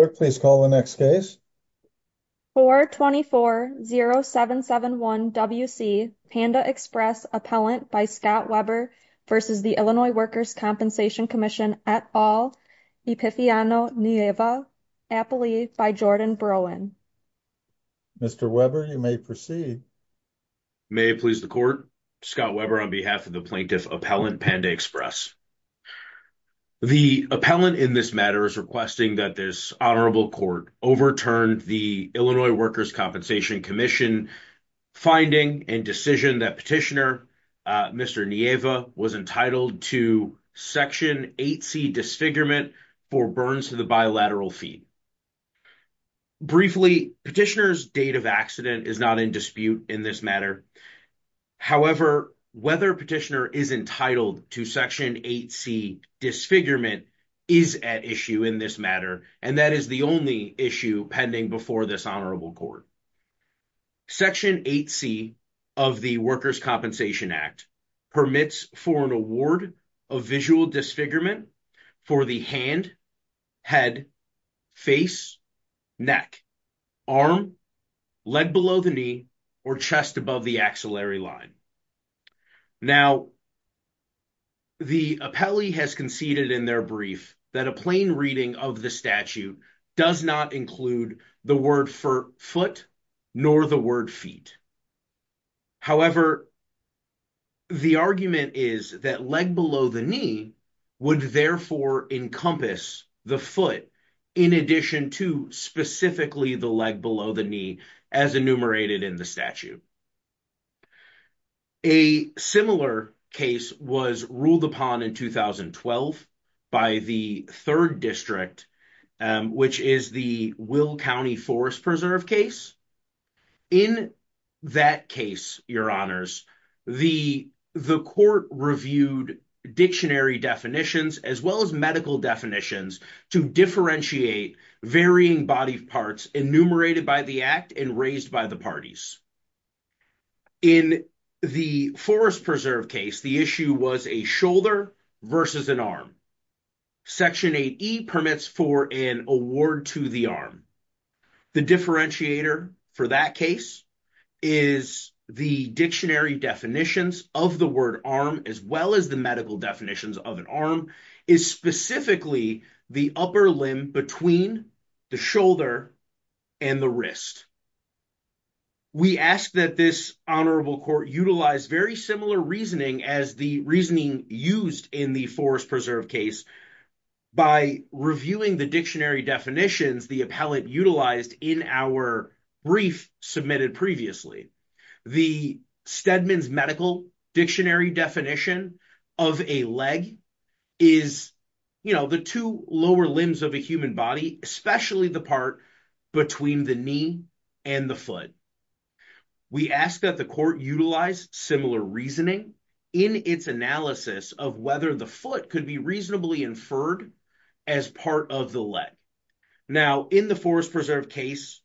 424-0771-WC Panda Express Appellant by Scott Weber v. Illinois Workers' Compensation Comm'n et al. Epifiano Nieva Appellee by Jordan Broin The Honorable Court overturned the Illinois Workers' Compensation Commission finding and decision that Petitioner Mr. Nieva was entitled to Section 8c disfigurement for burns to the bilateral feed. Briefly, Petitioner's date of accident is not in dispute in this matter. However, whether Petitioner is entitled to Section 8c disfigurement is at issue in this matter and that is the only issue pending before this Honorable Court. Section 8c of the Workers' Compensation Act permits for an award of visual disfigurement for the hand, head, face, neck, arm, leg below the knee, or chest above the axillary line. Now, the appellee has conceded in their brief that a plain reading of the statute does not include the word for foot nor the word feet. However, the argument is that leg below the knee would therefore encompass the foot in addition to specifically the leg below the knee as enumerated in the statute. A similar case was ruled upon in 2012 by the 3rd District, which is the Will County Forest Preserve case. In that case, Your Honors, the court reviewed dictionary definitions as well as medical definitions to differentiate varying body parts enumerated by the act and raised by the parties. In the Forest Preserve case, the issue was a shoulder versus an arm. Section 8e permits for an award to the arm. The differentiator for that case is the dictionary definitions of the word arm as well as the medical definitions of an arm is specifically the upper limb between the shoulder and the wrist. We ask that this honorable court utilize very similar reasoning as the reasoning used in the Forest Preserve case by reviewing the dictionary definitions the appellate utilized in our brief submitted previously. The Stedman's medical dictionary definition of a leg is the two lower limbs of a human body, especially the part between the knee and the foot. We ask that the court utilize similar reasoning in its analysis of whether the foot could be reasonably inferred as part of the leg. Now, in the Forest Preserve case,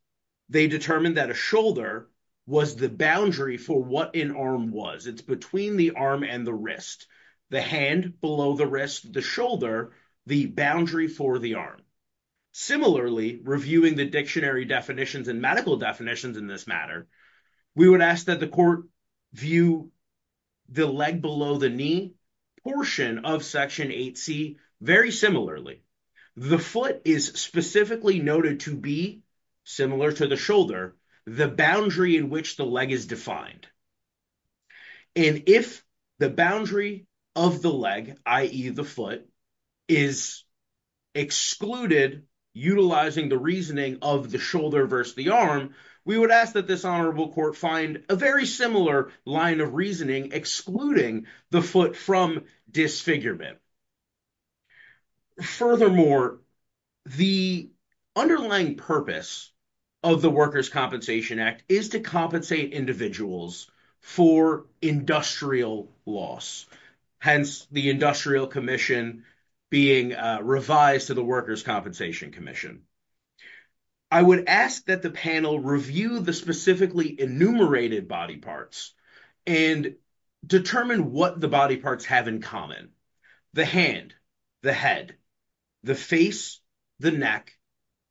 they determined that a shoulder was the boundary for what an arm was. It's between the arm and the wrist, the hand below the wrist, the shoulder, the boundary for the arm. Similarly, reviewing the dictionary definitions and medical definitions in this matter, we would ask that the court view the leg below the knee portion of Section 8c very similarly. The foot is specifically noted to be similar to the shoulder, the boundary in which the leg is defined. And if the boundary of the leg, i.e. the foot, is excluded utilizing the reasoning of the shoulder versus the arm, we would ask that this honorable court find a very similar line of reasoning excluding the foot from disfigurement. Furthermore, the underlying purpose of the Workers' Compensation Act is to compensate individuals for industrial loss, hence the Industrial Commission being revised to the Workers' Compensation Commission. I would ask that the panel review the specifically enumerated body parts and determine what the body parts have in common. The hand, the head, the face, the neck,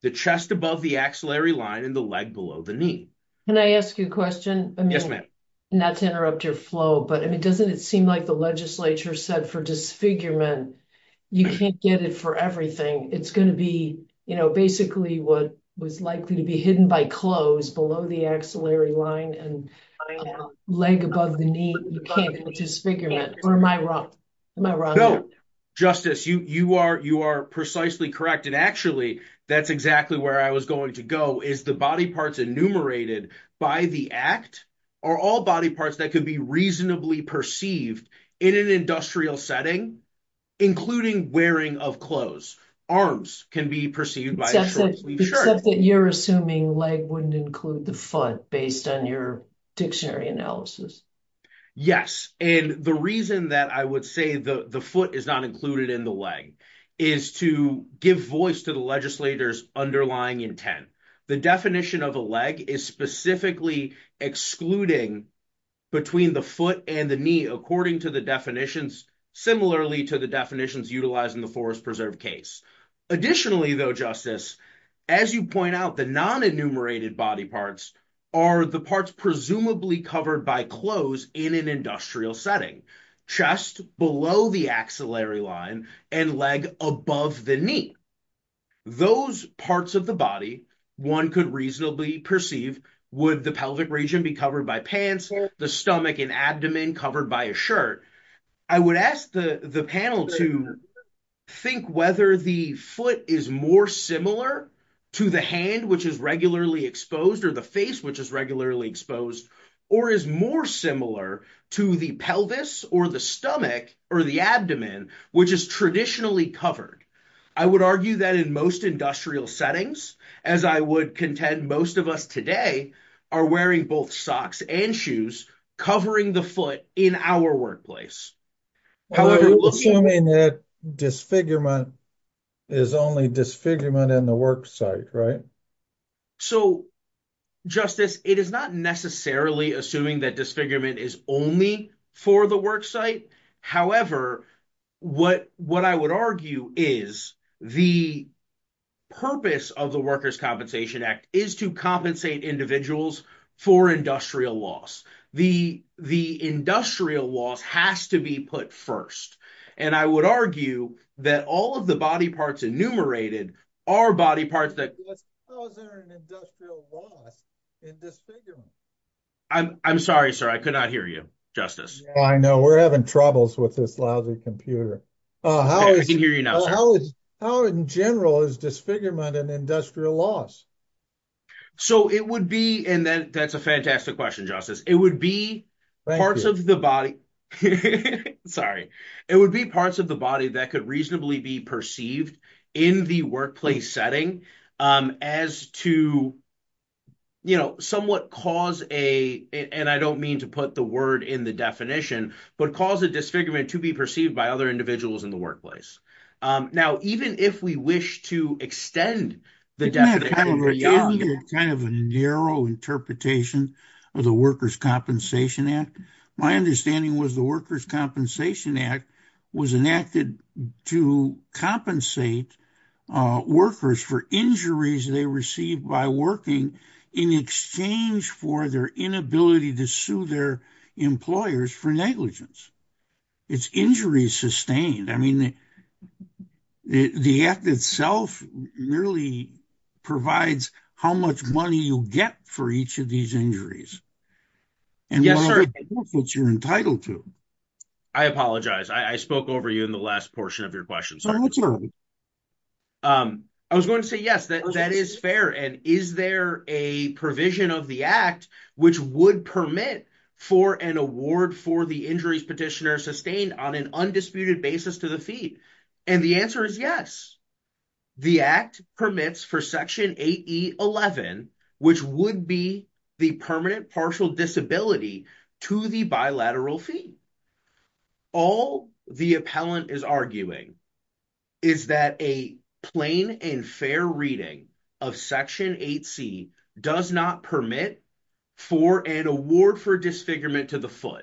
the chest above the axillary line, and the leg below the knee. Can I ask you a question? Yes, ma'am. Not to interrupt your flow, but doesn't it seem like the legislature said for disfigurement, you can't get it for everything. It's going to be basically what was likely to be hidden by clothes below the axillary line and leg above the knee, you can't get disfigurement. Or am I wrong? Justice, you are precisely correct. And actually, that's exactly where I was going to go is the body parts enumerated by the act are all body parts that could be reasonably perceived in an industrial setting, including wearing of clothes. Arms can be perceived by a short-sleeved shirt. Except that you're assuming leg wouldn't include the foot based on your dictionary analysis. Yes. And the reason that I would say the foot is not included in the leg is to give voice to the legislator's underlying intent. The definition of a leg is specifically excluding between the foot and the knee, according to the definitions, similarly to the definitions utilizing the Forest Preserve case. Additionally, though, Justice, as you point out, the non-enumerated body parts are the parts presumably covered by clothes in an industrial setting. Chest below the axillary line and leg above the knee. Those parts of the body, one could reasonably perceive would the pelvic region be covered by pants, the stomach and abdomen covered by a shirt. I would ask the panel to think whether the foot is more similar to the hand, which is regularly exposed or the face, which is regularly exposed or is more similar to the pelvis or the stomach or the abdomen, which is traditionally covered. I would argue that in most industrial settings, as I would contend most of us today are wearing both socks and shoes covering the foot in our workplace. Assuming that disfigurement is only disfigurement in the worksite, right? So, Justice, it is not necessarily assuming that disfigurement is only for the worksite. However, what I would argue is the purpose of the Workers' Compensation Act is to compensate individuals for industrial loss. The industrial loss has to be put first, and I would argue that all of the body parts enumerated are body parts that... How is there an industrial loss in disfigurement? I'm sorry, sir. I could not hear you, Justice. I know. We're having troubles with this lousy computer. I can hear you now, sir. How in general is disfigurement an industrial loss? That's a fantastic question, Justice. It would be parts of the body... Sorry. It would be parts of the body that could reasonably be perceived in the workplace setting as to somewhat cause a... And I don't mean to put the word in the definition, but cause a disfigurement to be perceived by other individuals in the workplace. Now, even if we wish to extend the definition... Isn't it kind of a narrow interpretation of the Workers' Compensation Act? My understanding was the Workers' Compensation Act was enacted to compensate workers for injuries they received by working in exchange for their inability to sue their employers for negligence. It's injuries sustained. I mean, the act itself merely provides how much money you get for each of these injuries. Yes, sir. And what are the benefits you're entitled to? I apologize. I spoke over you in the last portion of your question. That's all right. I was going to say, yes, that is fair. And is there a provision of the act which would permit for an award for the injuries petitioner sustained on an undisputed basis to the fee? And the answer is yes. The act permits for Section 8E11, which would be the permanent partial disability to the bilateral fee. All the appellant is arguing is that a plain and fair reading of Section 8C does not permit for an award for disfigurement to the foot.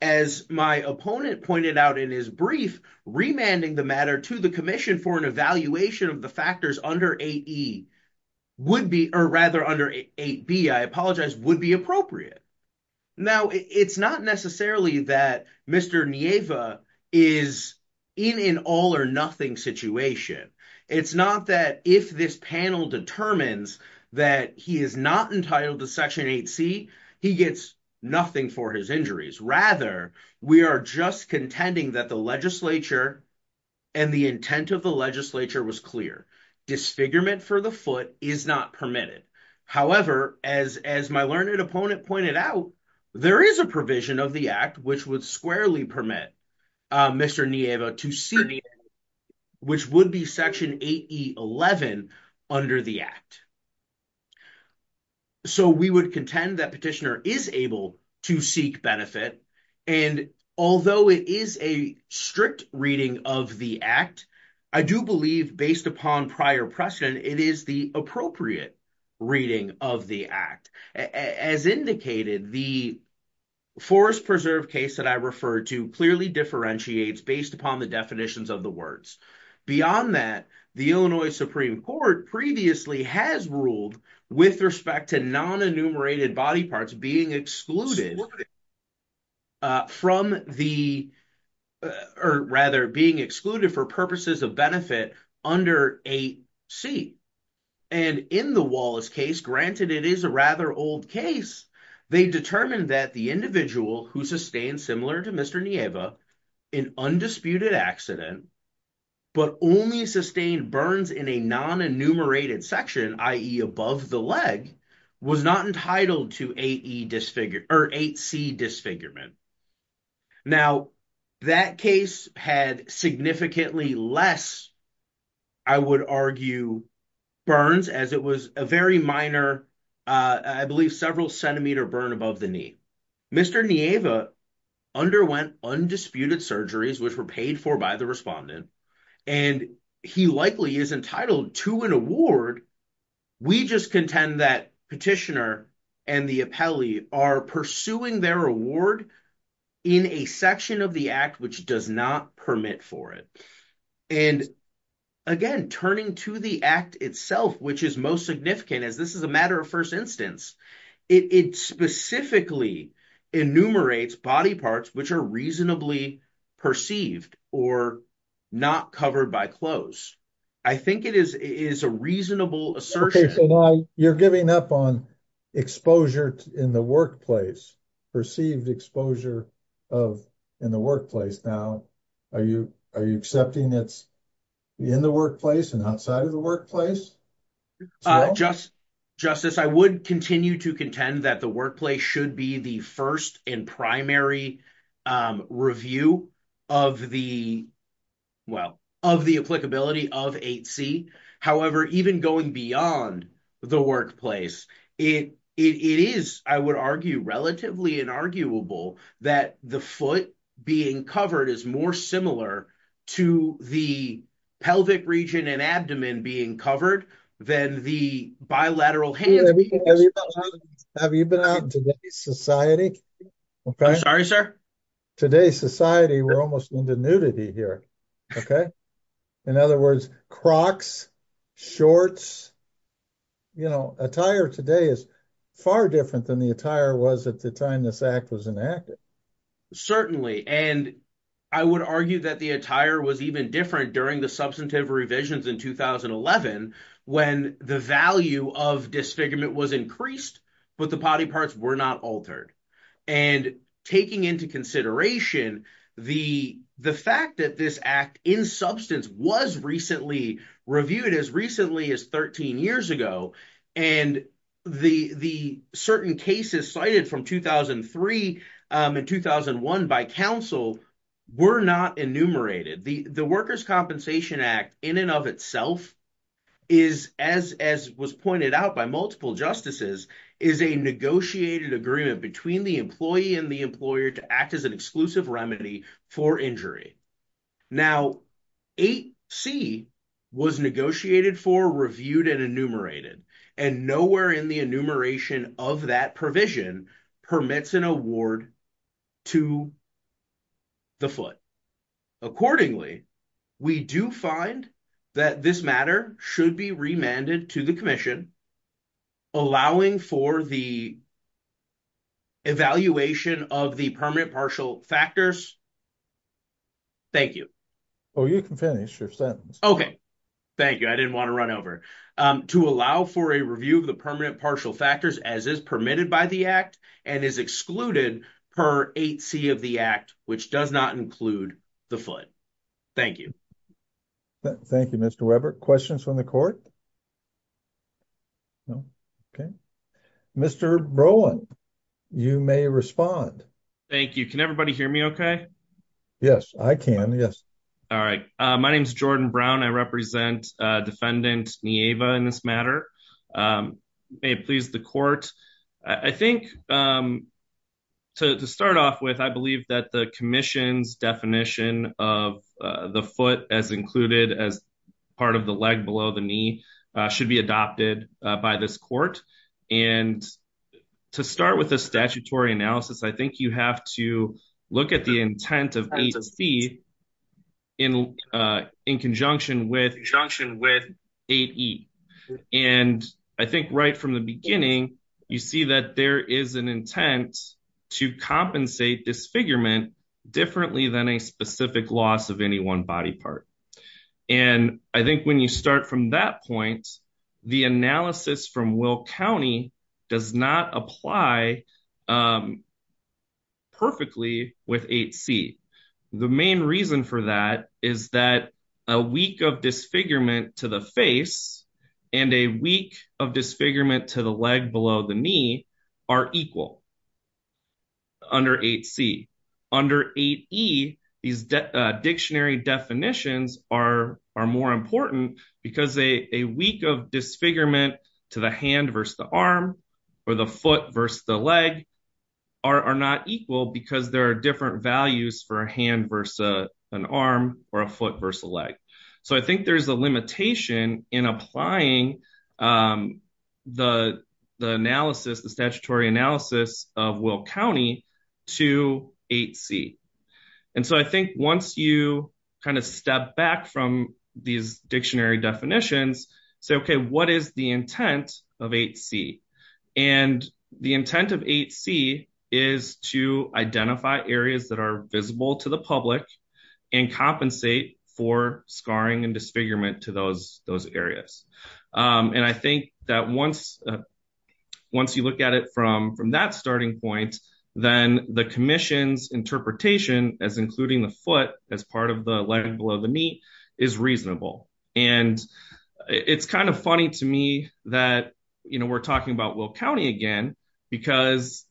As my opponent pointed out in his brief, remanding the matter to the commission for an evaluation of the factors under 8B, I apologize, would be appropriate. Now, it's not necessarily that Mr. Nieva is in an all or nothing situation. It's not that if this panel determines that he is not entitled to Section 8C, he gets nothing for his injuries. Rather, we are just contending that the legislature and the intent of the legislature was clear. Disfigurement for the foot is not permitted. However, as my learned opponent pointed out, there is a provision of the act which would squarely permit Mr. Nieva to see, which would be Section 8E11 under the act. So we would contend that petitioner is able to seek benefit. Although it is a strict reading of the act, I do believe based upon prior precedent, it is the appropriate reading of the act. As indicated, the forest preserve case that I referred to clearly differentiates based upon the definitions of the words. Beyond that, the Illinois Supreme Court previously has ruled with respect to non-enumerated body parts being excluded for purposes of benefit under 8C. And in the Wallace case, granted it is a rather old case, they determined that the individual who sustained, similar to Mr. Nieva, an undisputed accident, but only sustained burns in a non-enumerated section, i.e. above the leg, was not entitled to 8C disfigurement. Now, that case had significantly less, I would argue, burns as it was a very minor, I believe several centimeter burn above the knee. Mr. Nieva underwent undisputed surgeries, which were paid for by the respondent, and he likely is entitled to an award. We just contend that petitioner and the appellee are pursuing their award in a section of the act which does not permit for it. And again, turning to the act itself, which is most significant as this is a matter of first instance, it specifically enumerates body parts which are reasonably perceived or not covered by clothes. I think it is a reasonable assertion. You're giving up on exposure in the workplace, perceived exposure in the workplace. Now, are you accepting it's in the workplace and outside of the workplace? Justice, I would continue to contend that the workplace should be the first and primary review of the, well, of the applicability of 8C. Have you been out in today's society? I'm sorry, sir. Today's society, we're almost into nudity here. In other words, Crocs, shorts. You know, attire today is far different than the attire was at the time this act was enacted. Certainly, and I would argue that the attire was even different during the substantive revisions in 2011 when the value of disfigurement was increased, but the body parts were not altered. And taking into consideration the fact that this act in substance was recently reviewed as recently as 13 years ago, and the certain cases cited from 2003 and 2001 by counsel were not enumerated. The Workers' Compensation Act in and of itself is, as was pointed out by multiple justices, is a negotiated agreement between the employee and the employer to act as an exclusive remedy for injury. Now, 8C was negotiated for, reviewed, and enumerated, and nowhere in the enumeration of that provision permits an award to the foot. Accordingly, we do find that this matter should be remanded to the commission, allowing for the evaluation of the permanent partial factors. Thank you. Oh, you can finish your sentence. Thank you. I didn't want to run over. To allow for a review of the permanent partial factors as is permitted by the act and is excluded per 8C of the act, which does not include the foot. Thank you. Thank you, Mr. Weber. Questions from the court? No? Okay. Mr. Brolin, you may respond. Thank you. Can everybody hear me okay? Yes, I can. Yes. All right. My name is Jordan Brown. I represent Defendant Nieva in this matter. May it please the court, I think to start off with, I believe that the commission's definition of the foot as included as part of the leg below the knee should be adopted by this court. And to start with a statutory analysis, I think you have to look at the intent of 8C in conjunction with 8E. And I think right from the beginning, you see that there is an intent to compensate disfigurement differently than a specific loss of any one body part. And I think when you start from that point, the analysis from Will County does not apply perfectly with 8C. The main reason for that is that a week of disfigurement to the face and a week of disfigurement to the leg below the knee are equal under 8C. Under 8E, these dictionary definitions are more important because a week of disfigurement to the hand versus the arm or the foot versus the leg are not equal because there are different values for a hand versus an arm or a foot versus a leg. So I think there's a limitation in applying the analysis, the statutory analysis of Will County to 8C. And so I think once you kind of step back from these dictionary definitions, say, okay, what is the intent of 8C? And the intent of 8C is to identify areas that are visible to the public and compensate for scarring and disfigurement to those areas. And I think that once you look at it from that starting point, then the commission's interpretation as including the foot as part of the leg below the knee is reasonable. And it's kind of funny to me that we're talking about Will County again because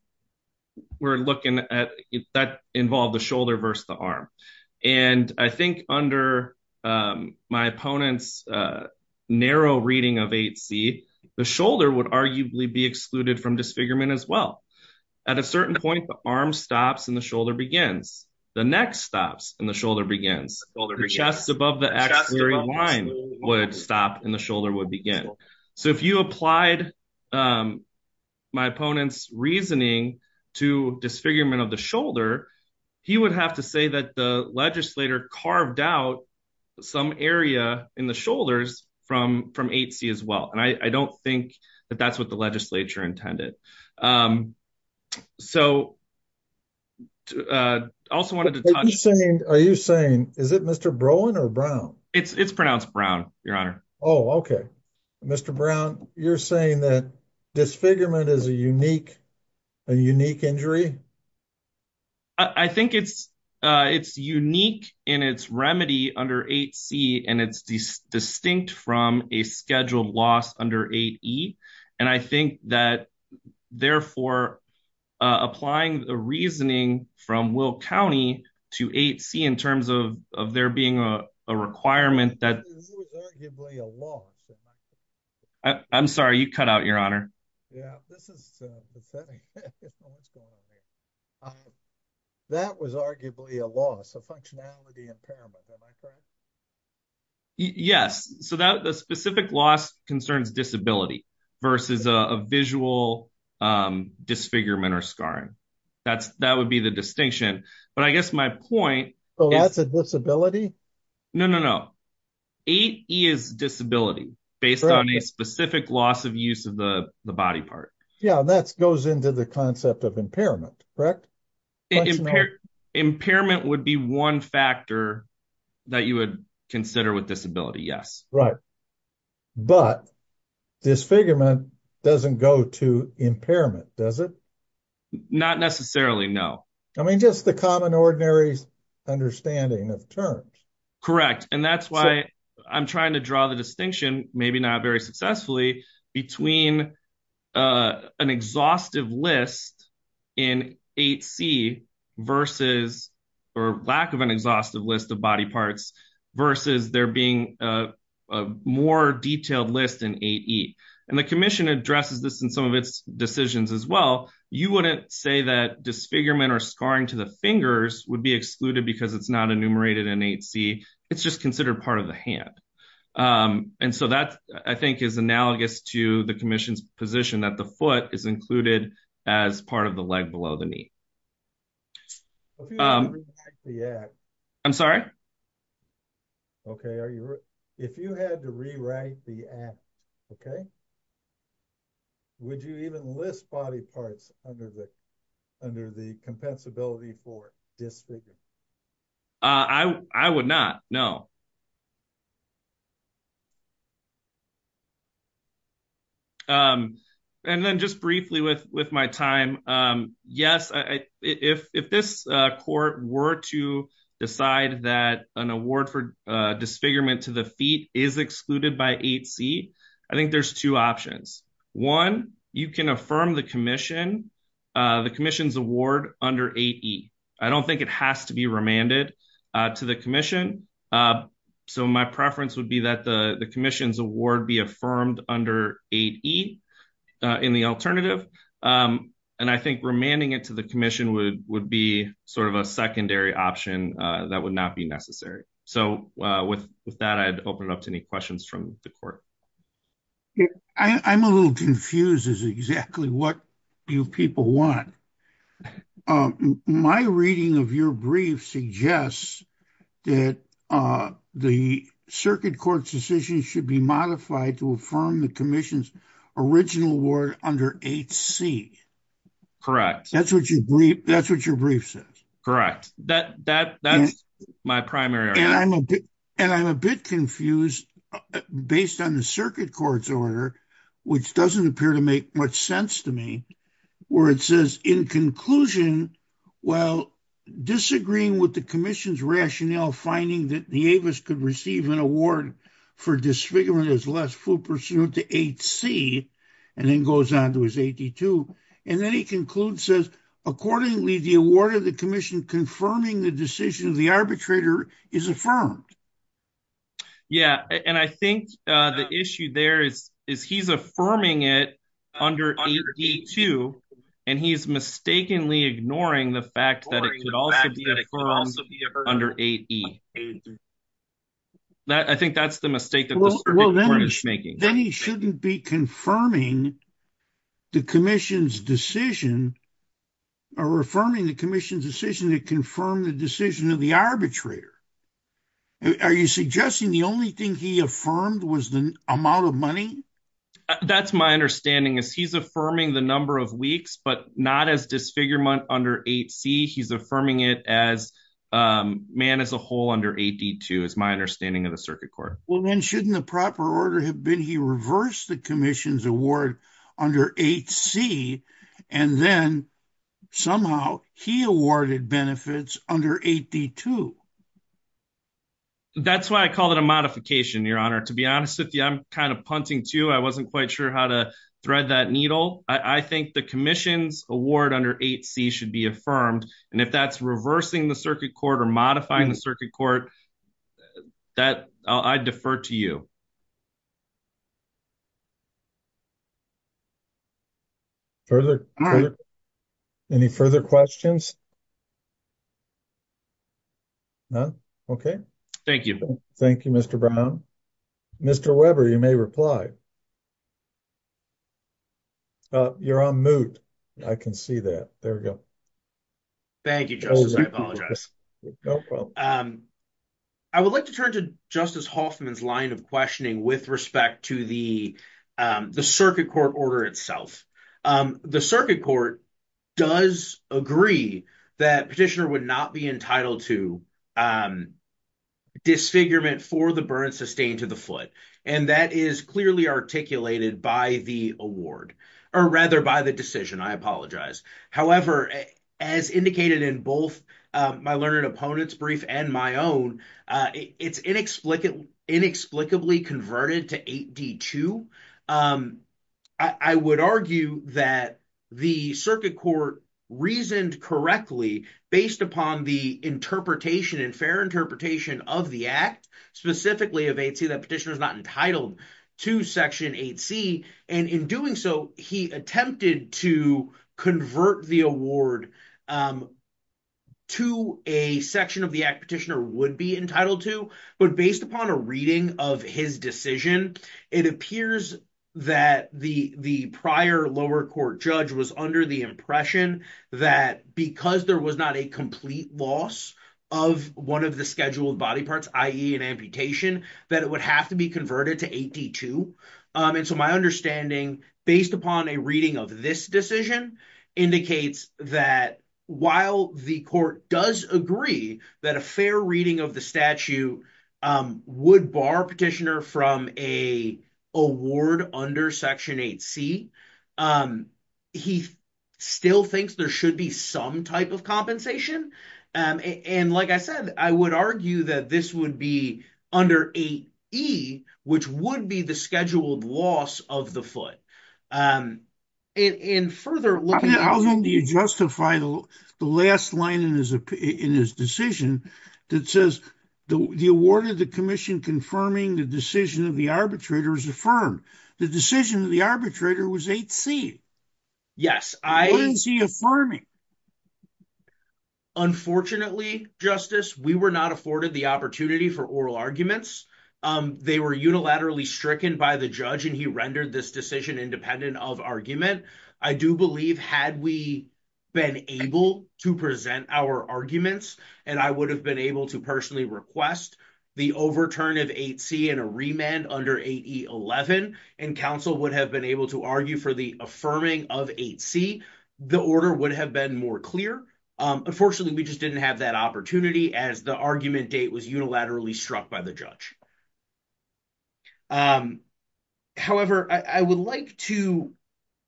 we're looking at that involved the shoulder versus the arm. And I think under my opponent's narrow reading of 8C, the shoulder would arguably be excluded from disfigurement as well. At a certain point, the arm stops and the shoulder begins. The neck stops and the shoulder begins. The chest above the axillary line would stop and the shoulder would begin. So if you applied my opponent's reasoning to disfigurement of the shoulder, he would have to say that the legislator carved out some area in the shoulders from 8C as well. And I don't think that that's what the legislature intended. So I also wanted to touch. Are you saying is it Mr. Broen or Brown? It's pronounced Brown, Your Honor. Oh, okay. Mr. Brown, you're saying that disfigurement is a unique injury? I think it's unique in its remedy under 8C, and it's distinct from a scheduled loss under 8E. And I think that, therefore, applying the reasoning from Will County to 8C in terms of there being a requirement that. This is arguably a loss. I'm sorry, you cut out, Your Honor. Yeah, this is upsetting. That was arguably a loss, a functionality impairment. Am I correct? Yes. So the specific loss concerns disability versus a visual disfigurement or scarring. That would be the distinction. But I guess my point is. Oh, that's a disability? No, no, no. 8E is disability based on a specific loss of use of the body part. Yeah, that goes into the concept of impairment, correct? Impairment would be one factor that you would consider with disability, yes. Right. But disfigurement doesn't go to impairment, does it? Not necessarily, no. I mean, just the common ordinary understanding of terms. Correct. And that's why I'm trying to draw the distinction, maybe not very successfully, between an exhaustive list in 8C versus or lack of an exhaustive list of body parts versus there being a more detailed list in 8E. And the commission addresses this in some of its decisions as well. You wouldn't say that disfigurement or scarring to the fingers would be excluded because it's not enumerated in 8C. It's just considered part of the hand. And so that, I think, is analogous to the commission's position that the foot is included as part of the leg below the knee. If you had to rewrite the act. I'm sorry? Okay. If you had to rewrite the act, okay, would you even list body parts under the compensability for disfigurement? I would not, no. And then just briefly with my time, yes, if this court were to decide that an award for disfigurement to the feet is excluded by 8C, I think there's two options. One, you can affirm the commission's award under 8E. I don't think it has to be remanded to the commission. So my preference would be that the commission's award be affirmed under 8E in the alternative. And I think remanding it to the commission would be sort of a secondary option that would not be necessary. So with that, I'd open it up to any questions from the court. I'm a little confused as to exactly what you people want. My reading of your brief suggests that the circuit court's decision should be modified to affirm the commission's original award under 8C. Correct. That's what your brief says. Correct. That's my primary argument. And I'm a bit confused based on the circuit court's order, which doesn't appear to make much sense to me, where it says, in conclusion, while disagreeing with the commission's rationale, finding that the Avis could receive an award for disfigurement is less full pursuit to 8C, and then goes on to his 82. And then he concludes, says, accordingly, the award of the commission confirming the decision of the arbitrator is affirmed. Yeah, and I think the issue there is he's affirming it under 8E too, and he's mistakenly ignoring the fact that it could also be affirmed under 8E. I think that's the mistake that the circuit court is making. Then he shouldn't be confirming the commission's decision or affirming the commission's decision to confirm the decision of the arbitrator. Are you suggesting the only thing he affirmed was the amount of money? That's my understanding is he's affirming the number of weeks, but not as disfigurement under 8C. He's affirming it as man as a whole under 8D too, is my understanding of the circuit court. Well, then shouldn't the proper order have been he reversed the commission's award under 8C, and then somehow he awarded benefits under 8D too? That's why I call it a modification, Your Honor. To be honest with you, I'm kind of punting too. I wasn't quite sure how to thread that needle. I think the commission's award under 8C should be affirmed, and if that's reversing the circuit court or modifying the circuit court, I defer to you. Any further questions? None? Okay. Thank you. Thank you, Mr. Brown. Mr. Weber, you may reply. You're on mute. I can see that. There we go. Thank you, Justice. I apologize. No problem. I would like to turn to Justice Hoffman's line of questioning with respect to the circuit court order itself. The circuit court does agree that petitioner would not be entitled to disfigurement for the burn sustained to the foot, and that is clearly articulated by the award, or rather by the decision. I apologize. However, as indicated in both my learned opponent's brief and my own, it's inexplicably converted to 8D2. I would argue that the circuit court reasoned correctly based upon the interpretation and fair interpretation of the Act, specifically of 8C, that petitioner is not entitled to Section 8C, and in doing so, he attempted to convert the award to a section of the Act petitioner would be entitled to. But based upon a reading of his decision, it appears that the prior lower court judge was under the impression that because there was not a complete loss of one of the scheduled body parts, i.e. an amputation, that it would have to be converted to 8D2. And so my understanding, based upon a reading of this decision, indicates that while the court does agree that a fair reading of the statute would bar petitioner from a award under Section 8C, he still thinks there should be some type of compensation. And like I said, I would argue that this would be under 8E, which would be the scheduled loss of the foot. How long do you justify the last line in his decision that says the award of the commission confirming the decision of the arbitrator is affirmed? The decision of the arbitrator was 8C. Yes. Why is he affirming? Unfortunately, Justice, we were not afforded the opportunity for oral arguments. They were unilaterally stricken by the judge, and he rendered this decision independent of argument. I do believe had we been able to present our arguments, and I would have been able to personally request the overturn of 8C and a remand under 8E11, and counsel would have been able to argue for the affirming of 8C, the order would have been more clear. Unfortunately, we just didn't have that opportunity as the argument date was unilaterally struck by the judge. However, I would like to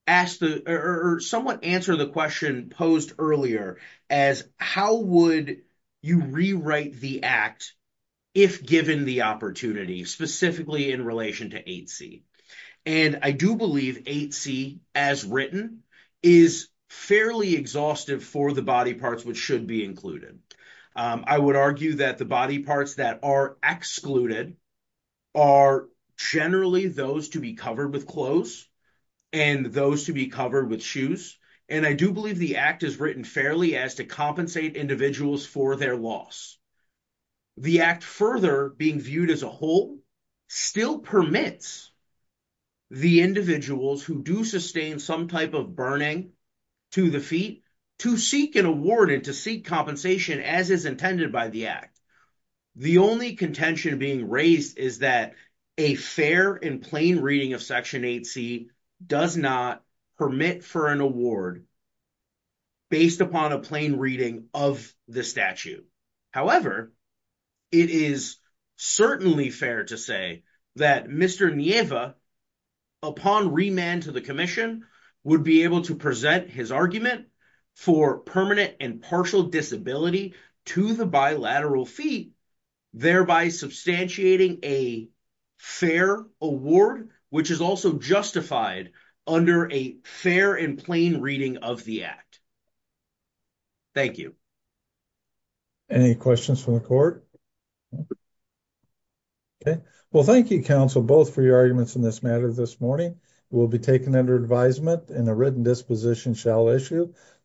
ask or somewhat answer the question posed earlier as how would you rewrite the act if given the opportunity, specifically in relation to 8C. And I do believe 8C, as written, is fairly exhaustive for the body parts which should be included. I would argue that the body parts that are excluded are generally those to be covered with clothes and those to be covered with shoes, and I do believe the act is written fairly as to compensate individuals for their loss. The act further being viewed as a whole still permits the individuals who do sustain some type of burning to the feet to seek an award and to seek compensation as is intended by the act. The only contention being raised is that a fair and plain reading of Section 8C does not permit for an award based upon a plain reading of the statute. However, it is certainly fair to say that Mr. Nieva, upon remand to the Commission, would be able to present his argument for permanent and partial disability to the bilateral fee, thereby substantiating a fair award, which is also justified under a fair and plain reading of the act. Thank you. Any questions from the court? Well, thank you, counsel, both for your arguments in this matter this morning. It will be taken under advisement and a written disposition shall issue.